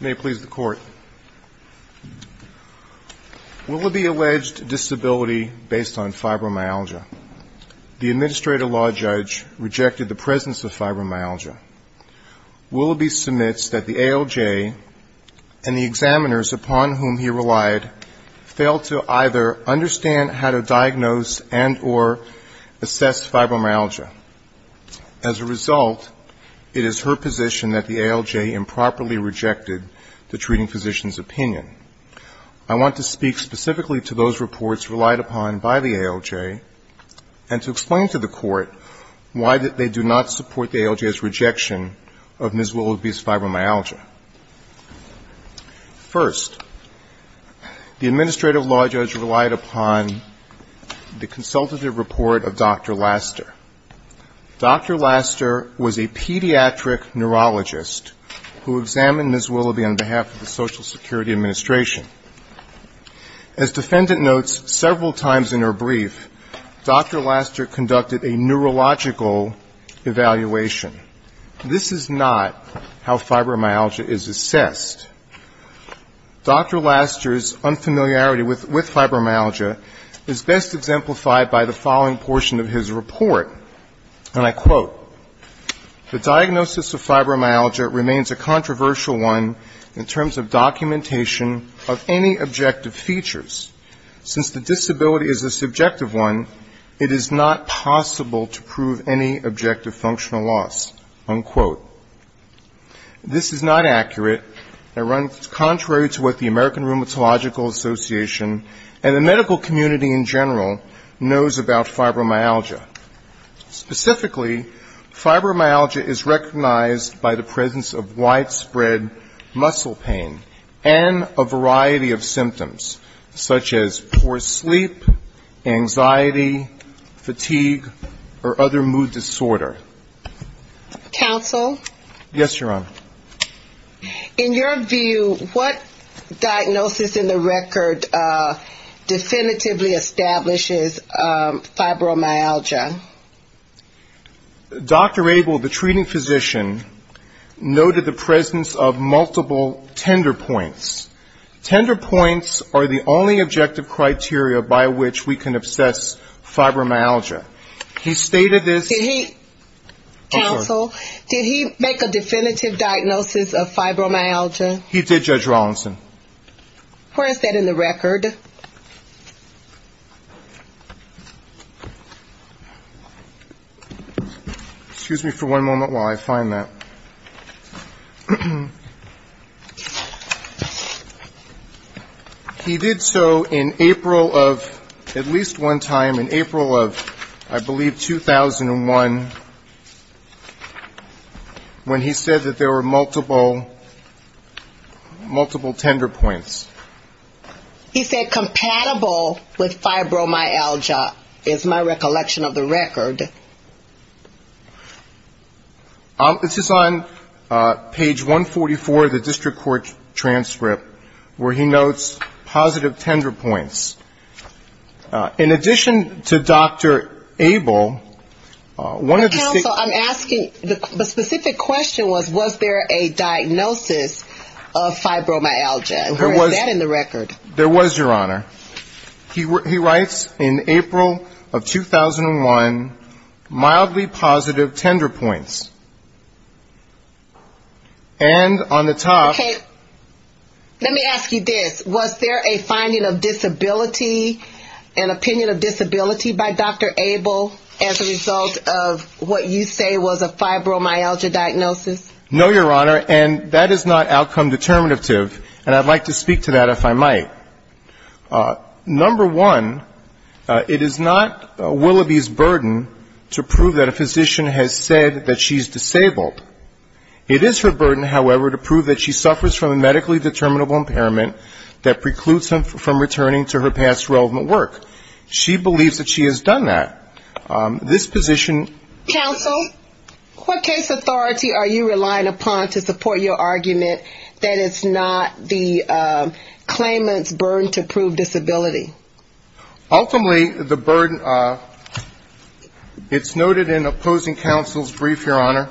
May it please the Court, Willoughby alleged disability based on fibromyalgia. The Administrator Law Judge rejected the presence of fibromyalgia. Willoughby submits that the ALJ and the examiners upon whom he relied failed to either understand how to diagnose and or assess fibromyalgia. As a result, it is her position that the ALJ improperly rejected the treating physician's opinion. I want to speak specifically to those reports relied upon by the ALJ and to explain to the Court why they do not support the ALJ's rejection of Ms. Willoughby's fibromyalgia. First, the Administrative Law Judge relied upon the consultative report of Dr. Laster. Dr. Laster was a pediatric neurologist who examined Ms. Willoughby on behalf of the Social Security Administration. As defendant notes several times in her brief, Dr. Laster conducted a neurological evaluation. This is not how fibromyalgia is assessed. Dr. Laster's unfamiliarity with fibromyalgia is best exemplified by the following portion of his report, and I quote, the diagnosis of fibromyalgia remains a controversial one in terms of documentation of any objective features. Since the disability is a subjective one, it is not possible to prove any objective functional loss, unquote. This is not accurate. It runs contrary to what the American Rheumatological Association and the medical community in general knows about fibromyalgia. Specifically, fibromyalgia is recognized by the presence of widespread muscle pain and a variety of symptoms, such as poor sleep, anxiety, fatigue, or other mood disorder. Counsel? Yes, Your Honor. In your view, what diagnosis in the record definitively establishes fibromyalgia? Dr. Abel, the treating physician, noted the presence of multiple tender points. Tender points are the only objective criteria by which we can assess fibromyalgia. He stated this ‑‑ Counsel, did he make a definitive diagnosis of fibromyalgia? He did, Judge Rawlinson. Where is that in the record? Excuse me for one moment while I find that. He did so in April of ‑‑ at least one tender point. He said compatible with fibromyalgia is my recollection of the record. This is on page 144 of the district court transcript where he notes positive tender points. In addition to Dr. Abel, one of the ‑‑ Where is that in the record? There was, Your Honor. He writes in April of 2001, mildly positive tender points. And on the top ‑‑ Okay. Let me ask you this. Was there a finding of disability, an opinion of disability by Dr. Abel as a result of what you say was a fibromyalgia diagnosis? No, Your Honor. And that is not outcome determinative. And I'd like to speak to that if I might. Number one, it is not Willoughby's burden to prove that a physician has said that she's disabled. It is her burden, however, to prove that she suffers from a medically determinable impairment that precludes her from returning to her past relevant work. She believes that she has done that. This position ‑‑ Counsel, what case authority are you relying upon to support your argument that it's not the claimant's burden to prove disability? Ultimately, the burden ‑‑ it's noted in opposing counsel's brief, Your Honor.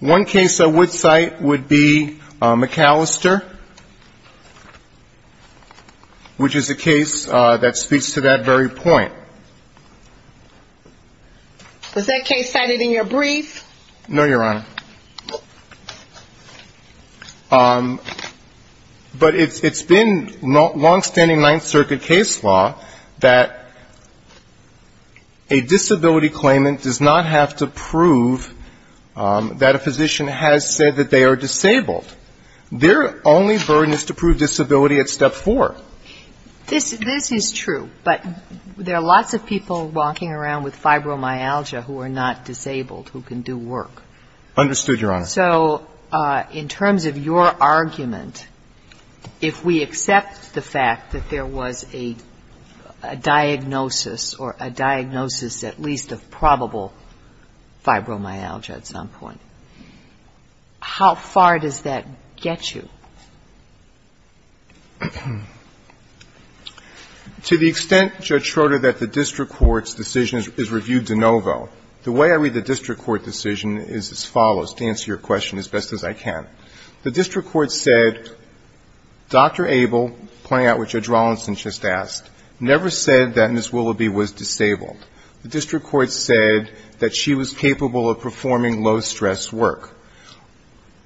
One case I would cite would be McAllister, which is a case that speaks to that very point. Was that case cited in your brief? No, Your Honor. But it's been longstanding Ninth Circuit case law that a disability claimant does not have to prove that a physician has said that they are disabled. Their only burden is to prove disability at step four. This is true. But there are lots of people walking around with fibromyalgia who are not disabled who can do work. Understood, Your Honor. So in terms of your argument, if we accept the fact that there was a diagnosis or a diagnosis at least of probable fibromyalgia at some point, how far does that get you? To the extent, Judge Schroeder, that the district court's decision is reviewed de novo, the way I read the district court decision is as follows, to answer your question as best as I can. The district court said, Dr. Abel, pointing out what Judge Rawlinson just asked, never said that Ms. Willoughby was disabled. The district court said that she was capable of performing low-stress work.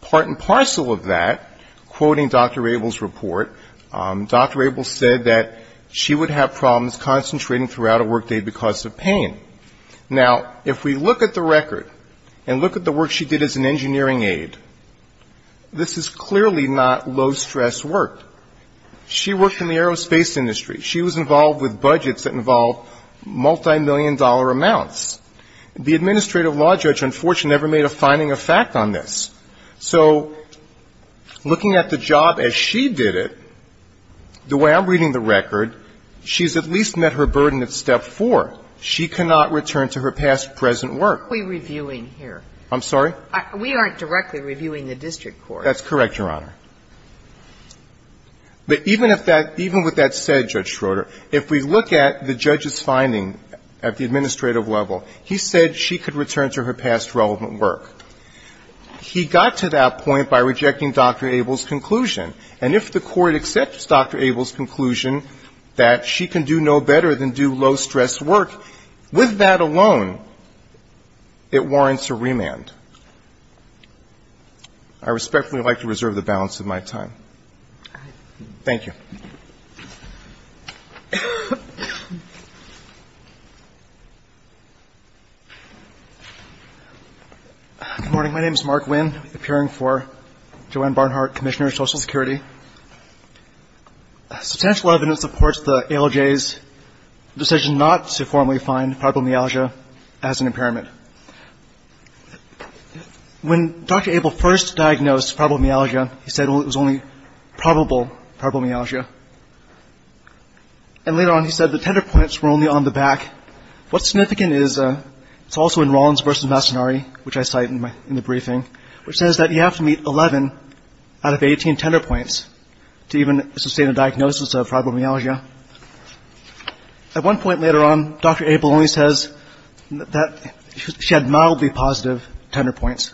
Part and parcel of that, quoting Dr. Abel's report, Dr. Abel said that she would have problems concentrating throughout a workday because of pain. Now, if we look at the record and look at the work she did as an engineering aide, this is clearly not low-stress work. She worked in the aerospace industry. She was involved with budgets that involved multimillion-dollar amounts. The administrative law judge, unfortunately, never made a finding of fact on this. So looking at the job as she did it, the way I'm reading the record, she's at least met her burden at step four. She cannot return to her past-present work. What are we reviewing here? I'm sorry? We aren't directly reviewing the district court. That's correct, Your Honor. But even if that – even with that said, Judge Schroeder, if we look at the judge's finding at the administrative level, he said she could return to her past-relevant work. He got to that point by rejecting Dr. Abel's conclusion. And if the Court accepts Dr. Abel's conclusion that she can do no better than do low-stress work, with that alone, it warrants a remand. I respectfully would like to reserve the balance of my time. All right. Thank you. Good morning. My name is Mark Winn, appearing for Joanne Barnhart, Commissioner of Social Security. Substantial evidence supports the ALJ's decision not to formally find probable myalgia as an impairment. When Dr. Abel first diagnosed probable myalgia, he said it was only probable probable myalgia. And later on, he said the tender points were only on the back. What's significant is – it's also in Rollins v. Mastinari, which I cite in the briefing, which says that you have to meet 11 out of 18 tender points to even sustain a diagnosis of probable myalgia. At one point later on, Dr. Abel only says that she had mildly positive tender points.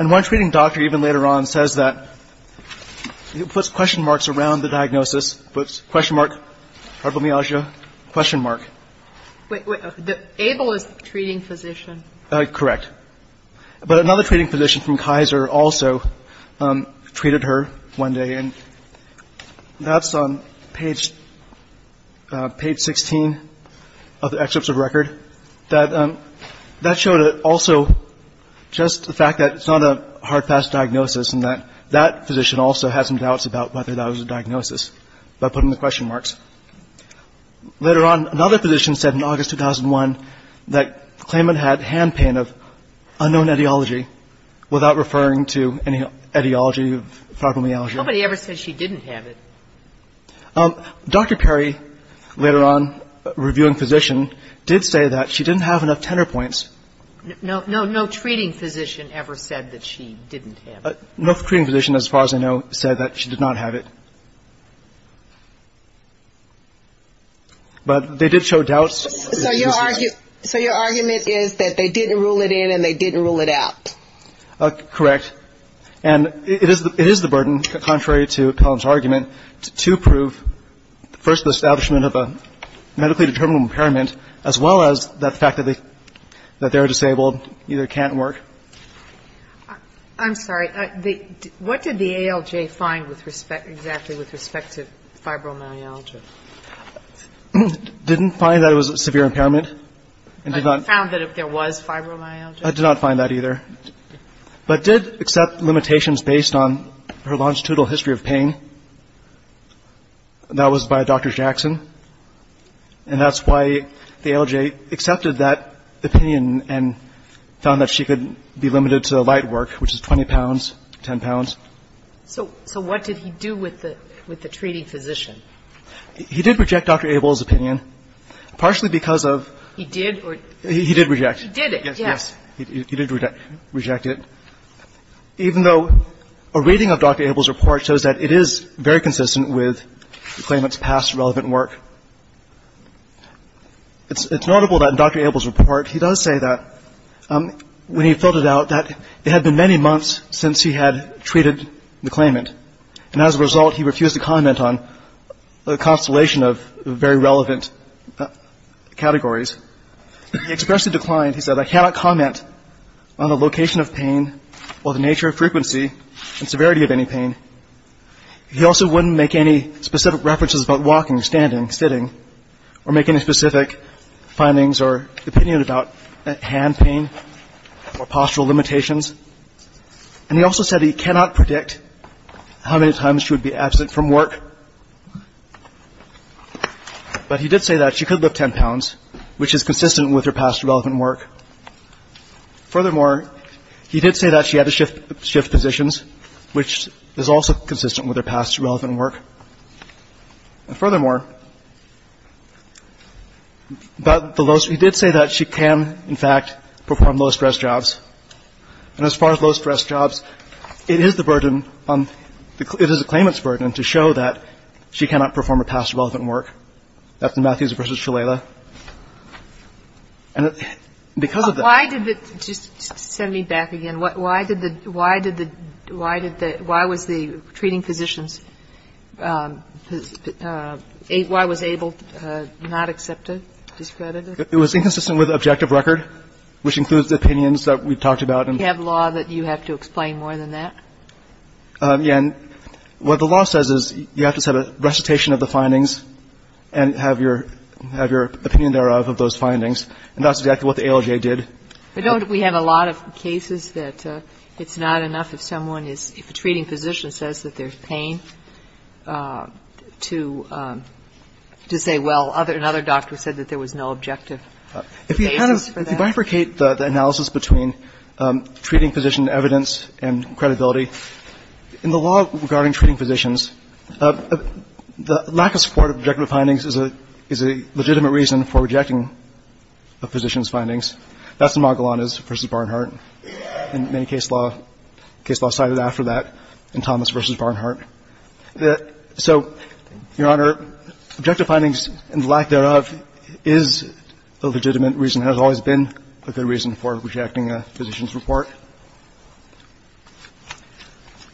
And one treating doctor even later on says that – he puts question marks around the diagnosis, puts question mark, probable myalgia, question mark. Wait, wait. Abel is the treating physician. Correct. But another treating physician from Kaiser also treated her one day and that's on page – page 16 of the excerpts of record. That – that showed also just the fact that it's not a hard-pass diagnosis and that that physician also had some doubts about whether that was a diagnosis by putting the question marks. Later on, another physician said in August 2001 that Klayman had hand pain of unknown etiology without referring to any etiology of probable myalgia. Nobody ever said she didn't have it. Dr. Perry, later on, reviewing physician, did say that she didn't have enough tender points. No, no, no treating physician ever said that she didn't have it. No treating physician, as far as I know, said that she did not have it. But they did show doubts. So your argument is that they didn't rule it in and they didn't rule it out. Correct. And it is the burden, contrary to Collins' argument, to prove first the establishment of a medically determinable impairment as well as the fact that they are disabled either can't work. I'm sorry. What did the ALJ find exactly with respect to fibromyalgia? Didn't find that it was a severe impairment. But found that there was fibromyalgia? I did not find that either. But did accept limitations based on her longitudinal history of pain. That was by Dr. Jackson. And that's why the ALJ accepted that opinion and found that she could be limited to light work, which is 20 pounds, 10 pounds. So what did he do with the treating physician? He did reject Dr. Abel's opinion, partially because of... He did? He did reject. He did it, yes. Yes. He did reject it, even though a reading of Dr. Abel's report shows that it is very consistent with the claimant's past relevant work. It's notable that Dr. Abel's report, he does say that when he filled it out, that it had been many months since he had treated the claimant. And as a result, he refused to comment on a constellation of very relevant categories. He expressed a decline. He said, I cannot comment on the location of pain or the nature of frequency and severity of any pain. He also wouldn't make any specific references about walking, standing, sitting, or make any specific findings or opinion about hand pain or postural limitations. And he also said he cannot predict how many times she would be absent from work. But he did say that she could lift 10 pounds, which is consistent with her past relevant work. Furthermore, he did say that she had to shift positions, which is also consistent with her past relevant work. And furthermore, he did say that she can, in fact, perform low-stress jobs. And as far as low-stress jobs, it is the burden, it is the claimant's burden to show that she cannot perform her past relevant work. That's the Matthews v. Shalala. And because of that ‑‑ Why did the ‑‑ just send me back again. Why did the ‑‑ why did the ‑‑ why did the ‑‑ why was the treating physicians ‑‑ why was Abel not accepted, discredited? It was inconsistent with objective record, which includes the opinions that we talked about. Do you have law that you have to explain more than that? Yeah, and what the law says is you have to set a recitation of the findings and have your opinion thereof of those findings. And that's exactly what the ALJ did. But don't we have a lot of cases that it's not enough if someone is ‑‑ if a treating physician says that there's pain to say, well, another doctor said that there was no objective basis for that? If you kind of ‑‑ if you bifurcate the analysis between treating physician evidence and credibility, in the law regarding treating physicians, the lack of support of objective findings is a legitimate reason for rejecting a physician's findings. That's the Magellanes v. Barnhart. And many case law cited after that in Thomas v. Barnhart. So, Your Honor, objective findings and lack thereof is a legitimate reason and has always been a good reason for rejecting a physician's report.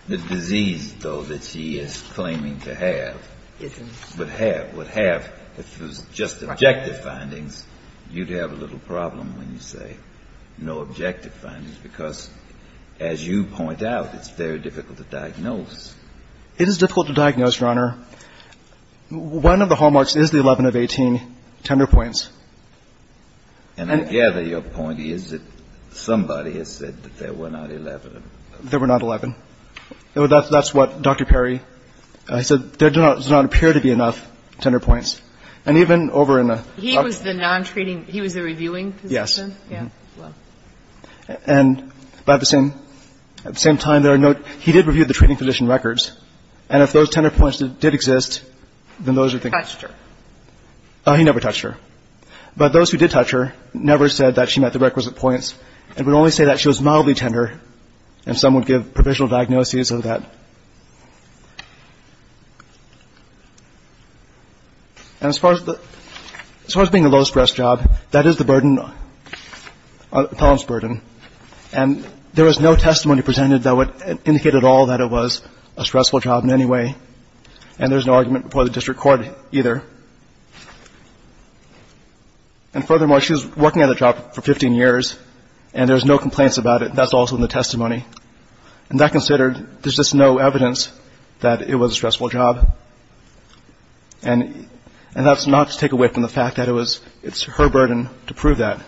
The disease, though, that he is claiming to have would have, would have, if it was just objective findings, you'd have a little problem when you say no objective findings because, as you point out, it's very difficult to diagnose. It is difficult to diagnose, Your Honor. One of the hallmarks is the 11 of 18 tender points. And I gather your point is that somebody has said that there were not 11. There were not 11. That's what Dr. Perry said. There does not appear to be enough tender points. And even over in the ‑‑ He was the non‑treating ‑‑ he was the reviewing physician? Yes. Yeah. Well. And at the same time, there are no ‑‑ he did review the treating physician records. And if those tender points did exist, then those are the ‑‑ Touched her. He never touched her. But those who did touch her never said that she met the requisite points and would only say that she was mildly tender and some would give provisional diagnoses of that. And as far as being the lowest‑dressed job, that is the burden, appellant's burden. And there was no testimony presented that would indicate at all that it was a stressful job in any way. And there's no argument before the district court either. And furthermore, she was working at the job for 15 years and there's no complaints about it. That's also in the testimony. And that considered, there's just no evidence that it was a stressful job. And that's not to take away from the fact that it was ‑‑ it's her burden to prove that.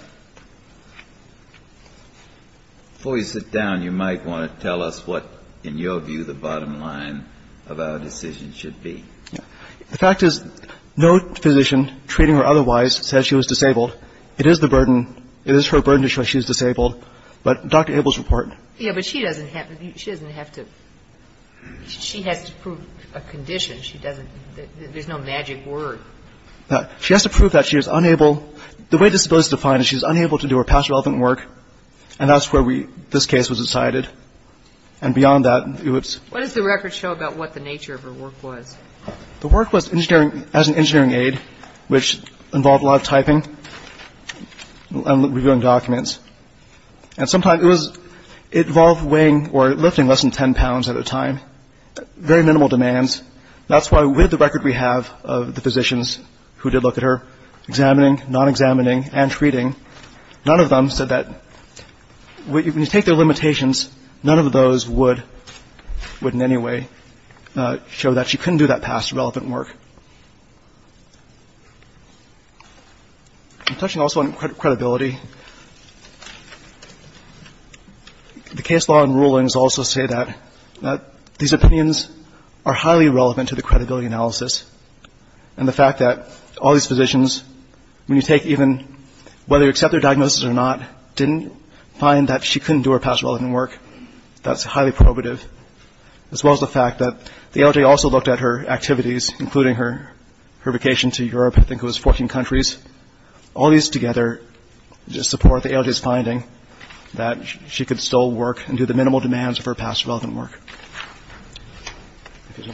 Before you sit down, you might want to tell us what, in your view, the bottom line of our decision should be. The fact is no physician treating her otherwise said she was disabled. It is the burden. It is her burden to show she was disabled. But Dr. Abel's report. Yeah, but she doesn't have to ‑‑ she doesn't have to ‑‑ she has to prove a condition. She doesn't ‑‑ there's no magic word. She has to prove that she was unable ‑‑ the way disability is defined is she was unable to do her past relevant work. And that's where we ‑‑ this case was decided. And beyond that, it was ‑‑ What does the record show about what the nature of her work was? The work was engineering ‑‑ as an engineering aide, which involved a lot of typing and reviewing documents. And sometimes it was ‑‑ it involved weighing or lifting less than 10 pounds at a time. Very minimal demands. That's why with the record we have of the physicians who did look at her, examining, non‑examining and treating, none of them said that when you take their limitations, none of those would in any way show that she couldn't do that past relevant work. I'm touching also on credibility. The case law and rulings also say that these opinions are highly relevant to the credibility analysis. And the fact that all these physicians, when you take even ‑‑ whether you accept their diagnosis or not, didn't find that she couldn't do her past relevant work. That's highly probative. As well as the fact that the ALJ also looked at her activities, including her vacation to Europe. I think it was 14 countries. All these together support the ALJ's finding that she could still work and do the minimal demands of her past relevant work. Thank you.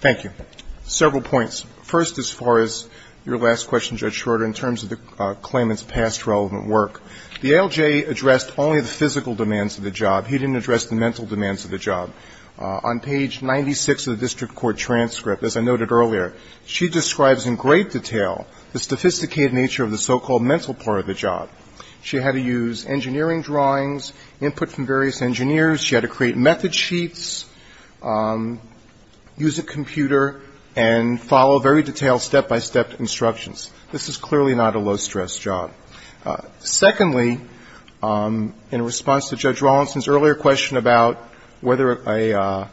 Thank you. Several points. First, as far as your last question, Judge Schroeder, in terms of the claimant's past relevant work, the ALJ addressed only the physical demands of the job. He didn't address the mental demands of the job. On page 96 of the district court transcript, as I noted earlier, she describes in great detail the sophisticated nature of the so‑called mental part of the job. She had to use engineering drawings, input from various engineers. She had to create method sheets, use a computer, and follow very detailed step‑by‑step instructions. This is clearly not a low‑stress job. Secondly, in response to Judge Rawlinson's earlier question about whether an attorney,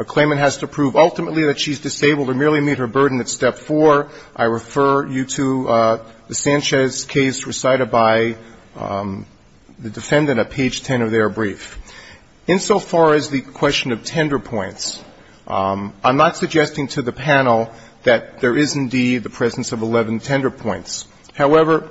a claimant, has to prove ultimately that she's disabled or merely meet her burden at step four, I refer you to the Sanchez case recited by the defendant at page 10 of their brief. Insofar as the question of tender points, I'm not suggesting to the panel that there is indeed the presence of 11 tender points. However,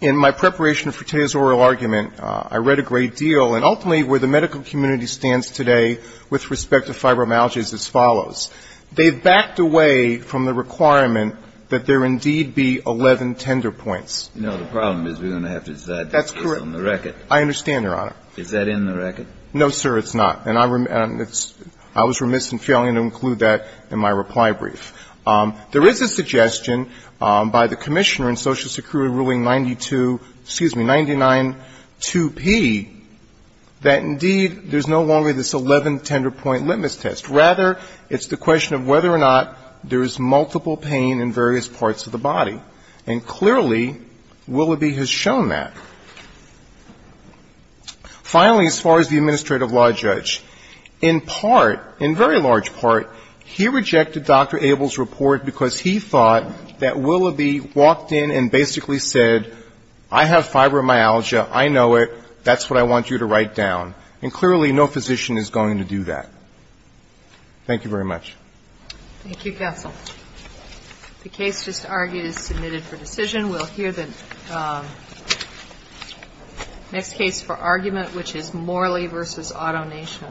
in my preparation for today's oral argument, I read a great deal. And ultimately, where the medical community stands today with respect to fibromyalgia is as follows. They've backed away from the requirement that there indeed be 11 tender points. No. The problem is we're going to have to decide that based on the record. That's correct. I understand, Your Honor. Is that in the record? No, sir, it's not. And I was remiss in failing to include that in my reply brief. There is a suggestion by the commissioner in Social Security ruling 92 ‑‑ that indeed there's no longer this 11 tender point litmus test. Rather, it's the question of whether or not there is multiple pain in various parts of the body. And clearly, Willoughby has shown that. Finally, as far as the administrative law judge, in part, in very large part, he rejected Dr. Abel's report because he thought that Willoughby walked in and basically said, I have fibromyalgia. I know it. That's what I want you to write down. And clearly, no physician is going to do that. Thank you very much. Thank you, counsel. The case just argued is submitted for decision. We'll hear the next case for argument, which is Morley v. AutoNation.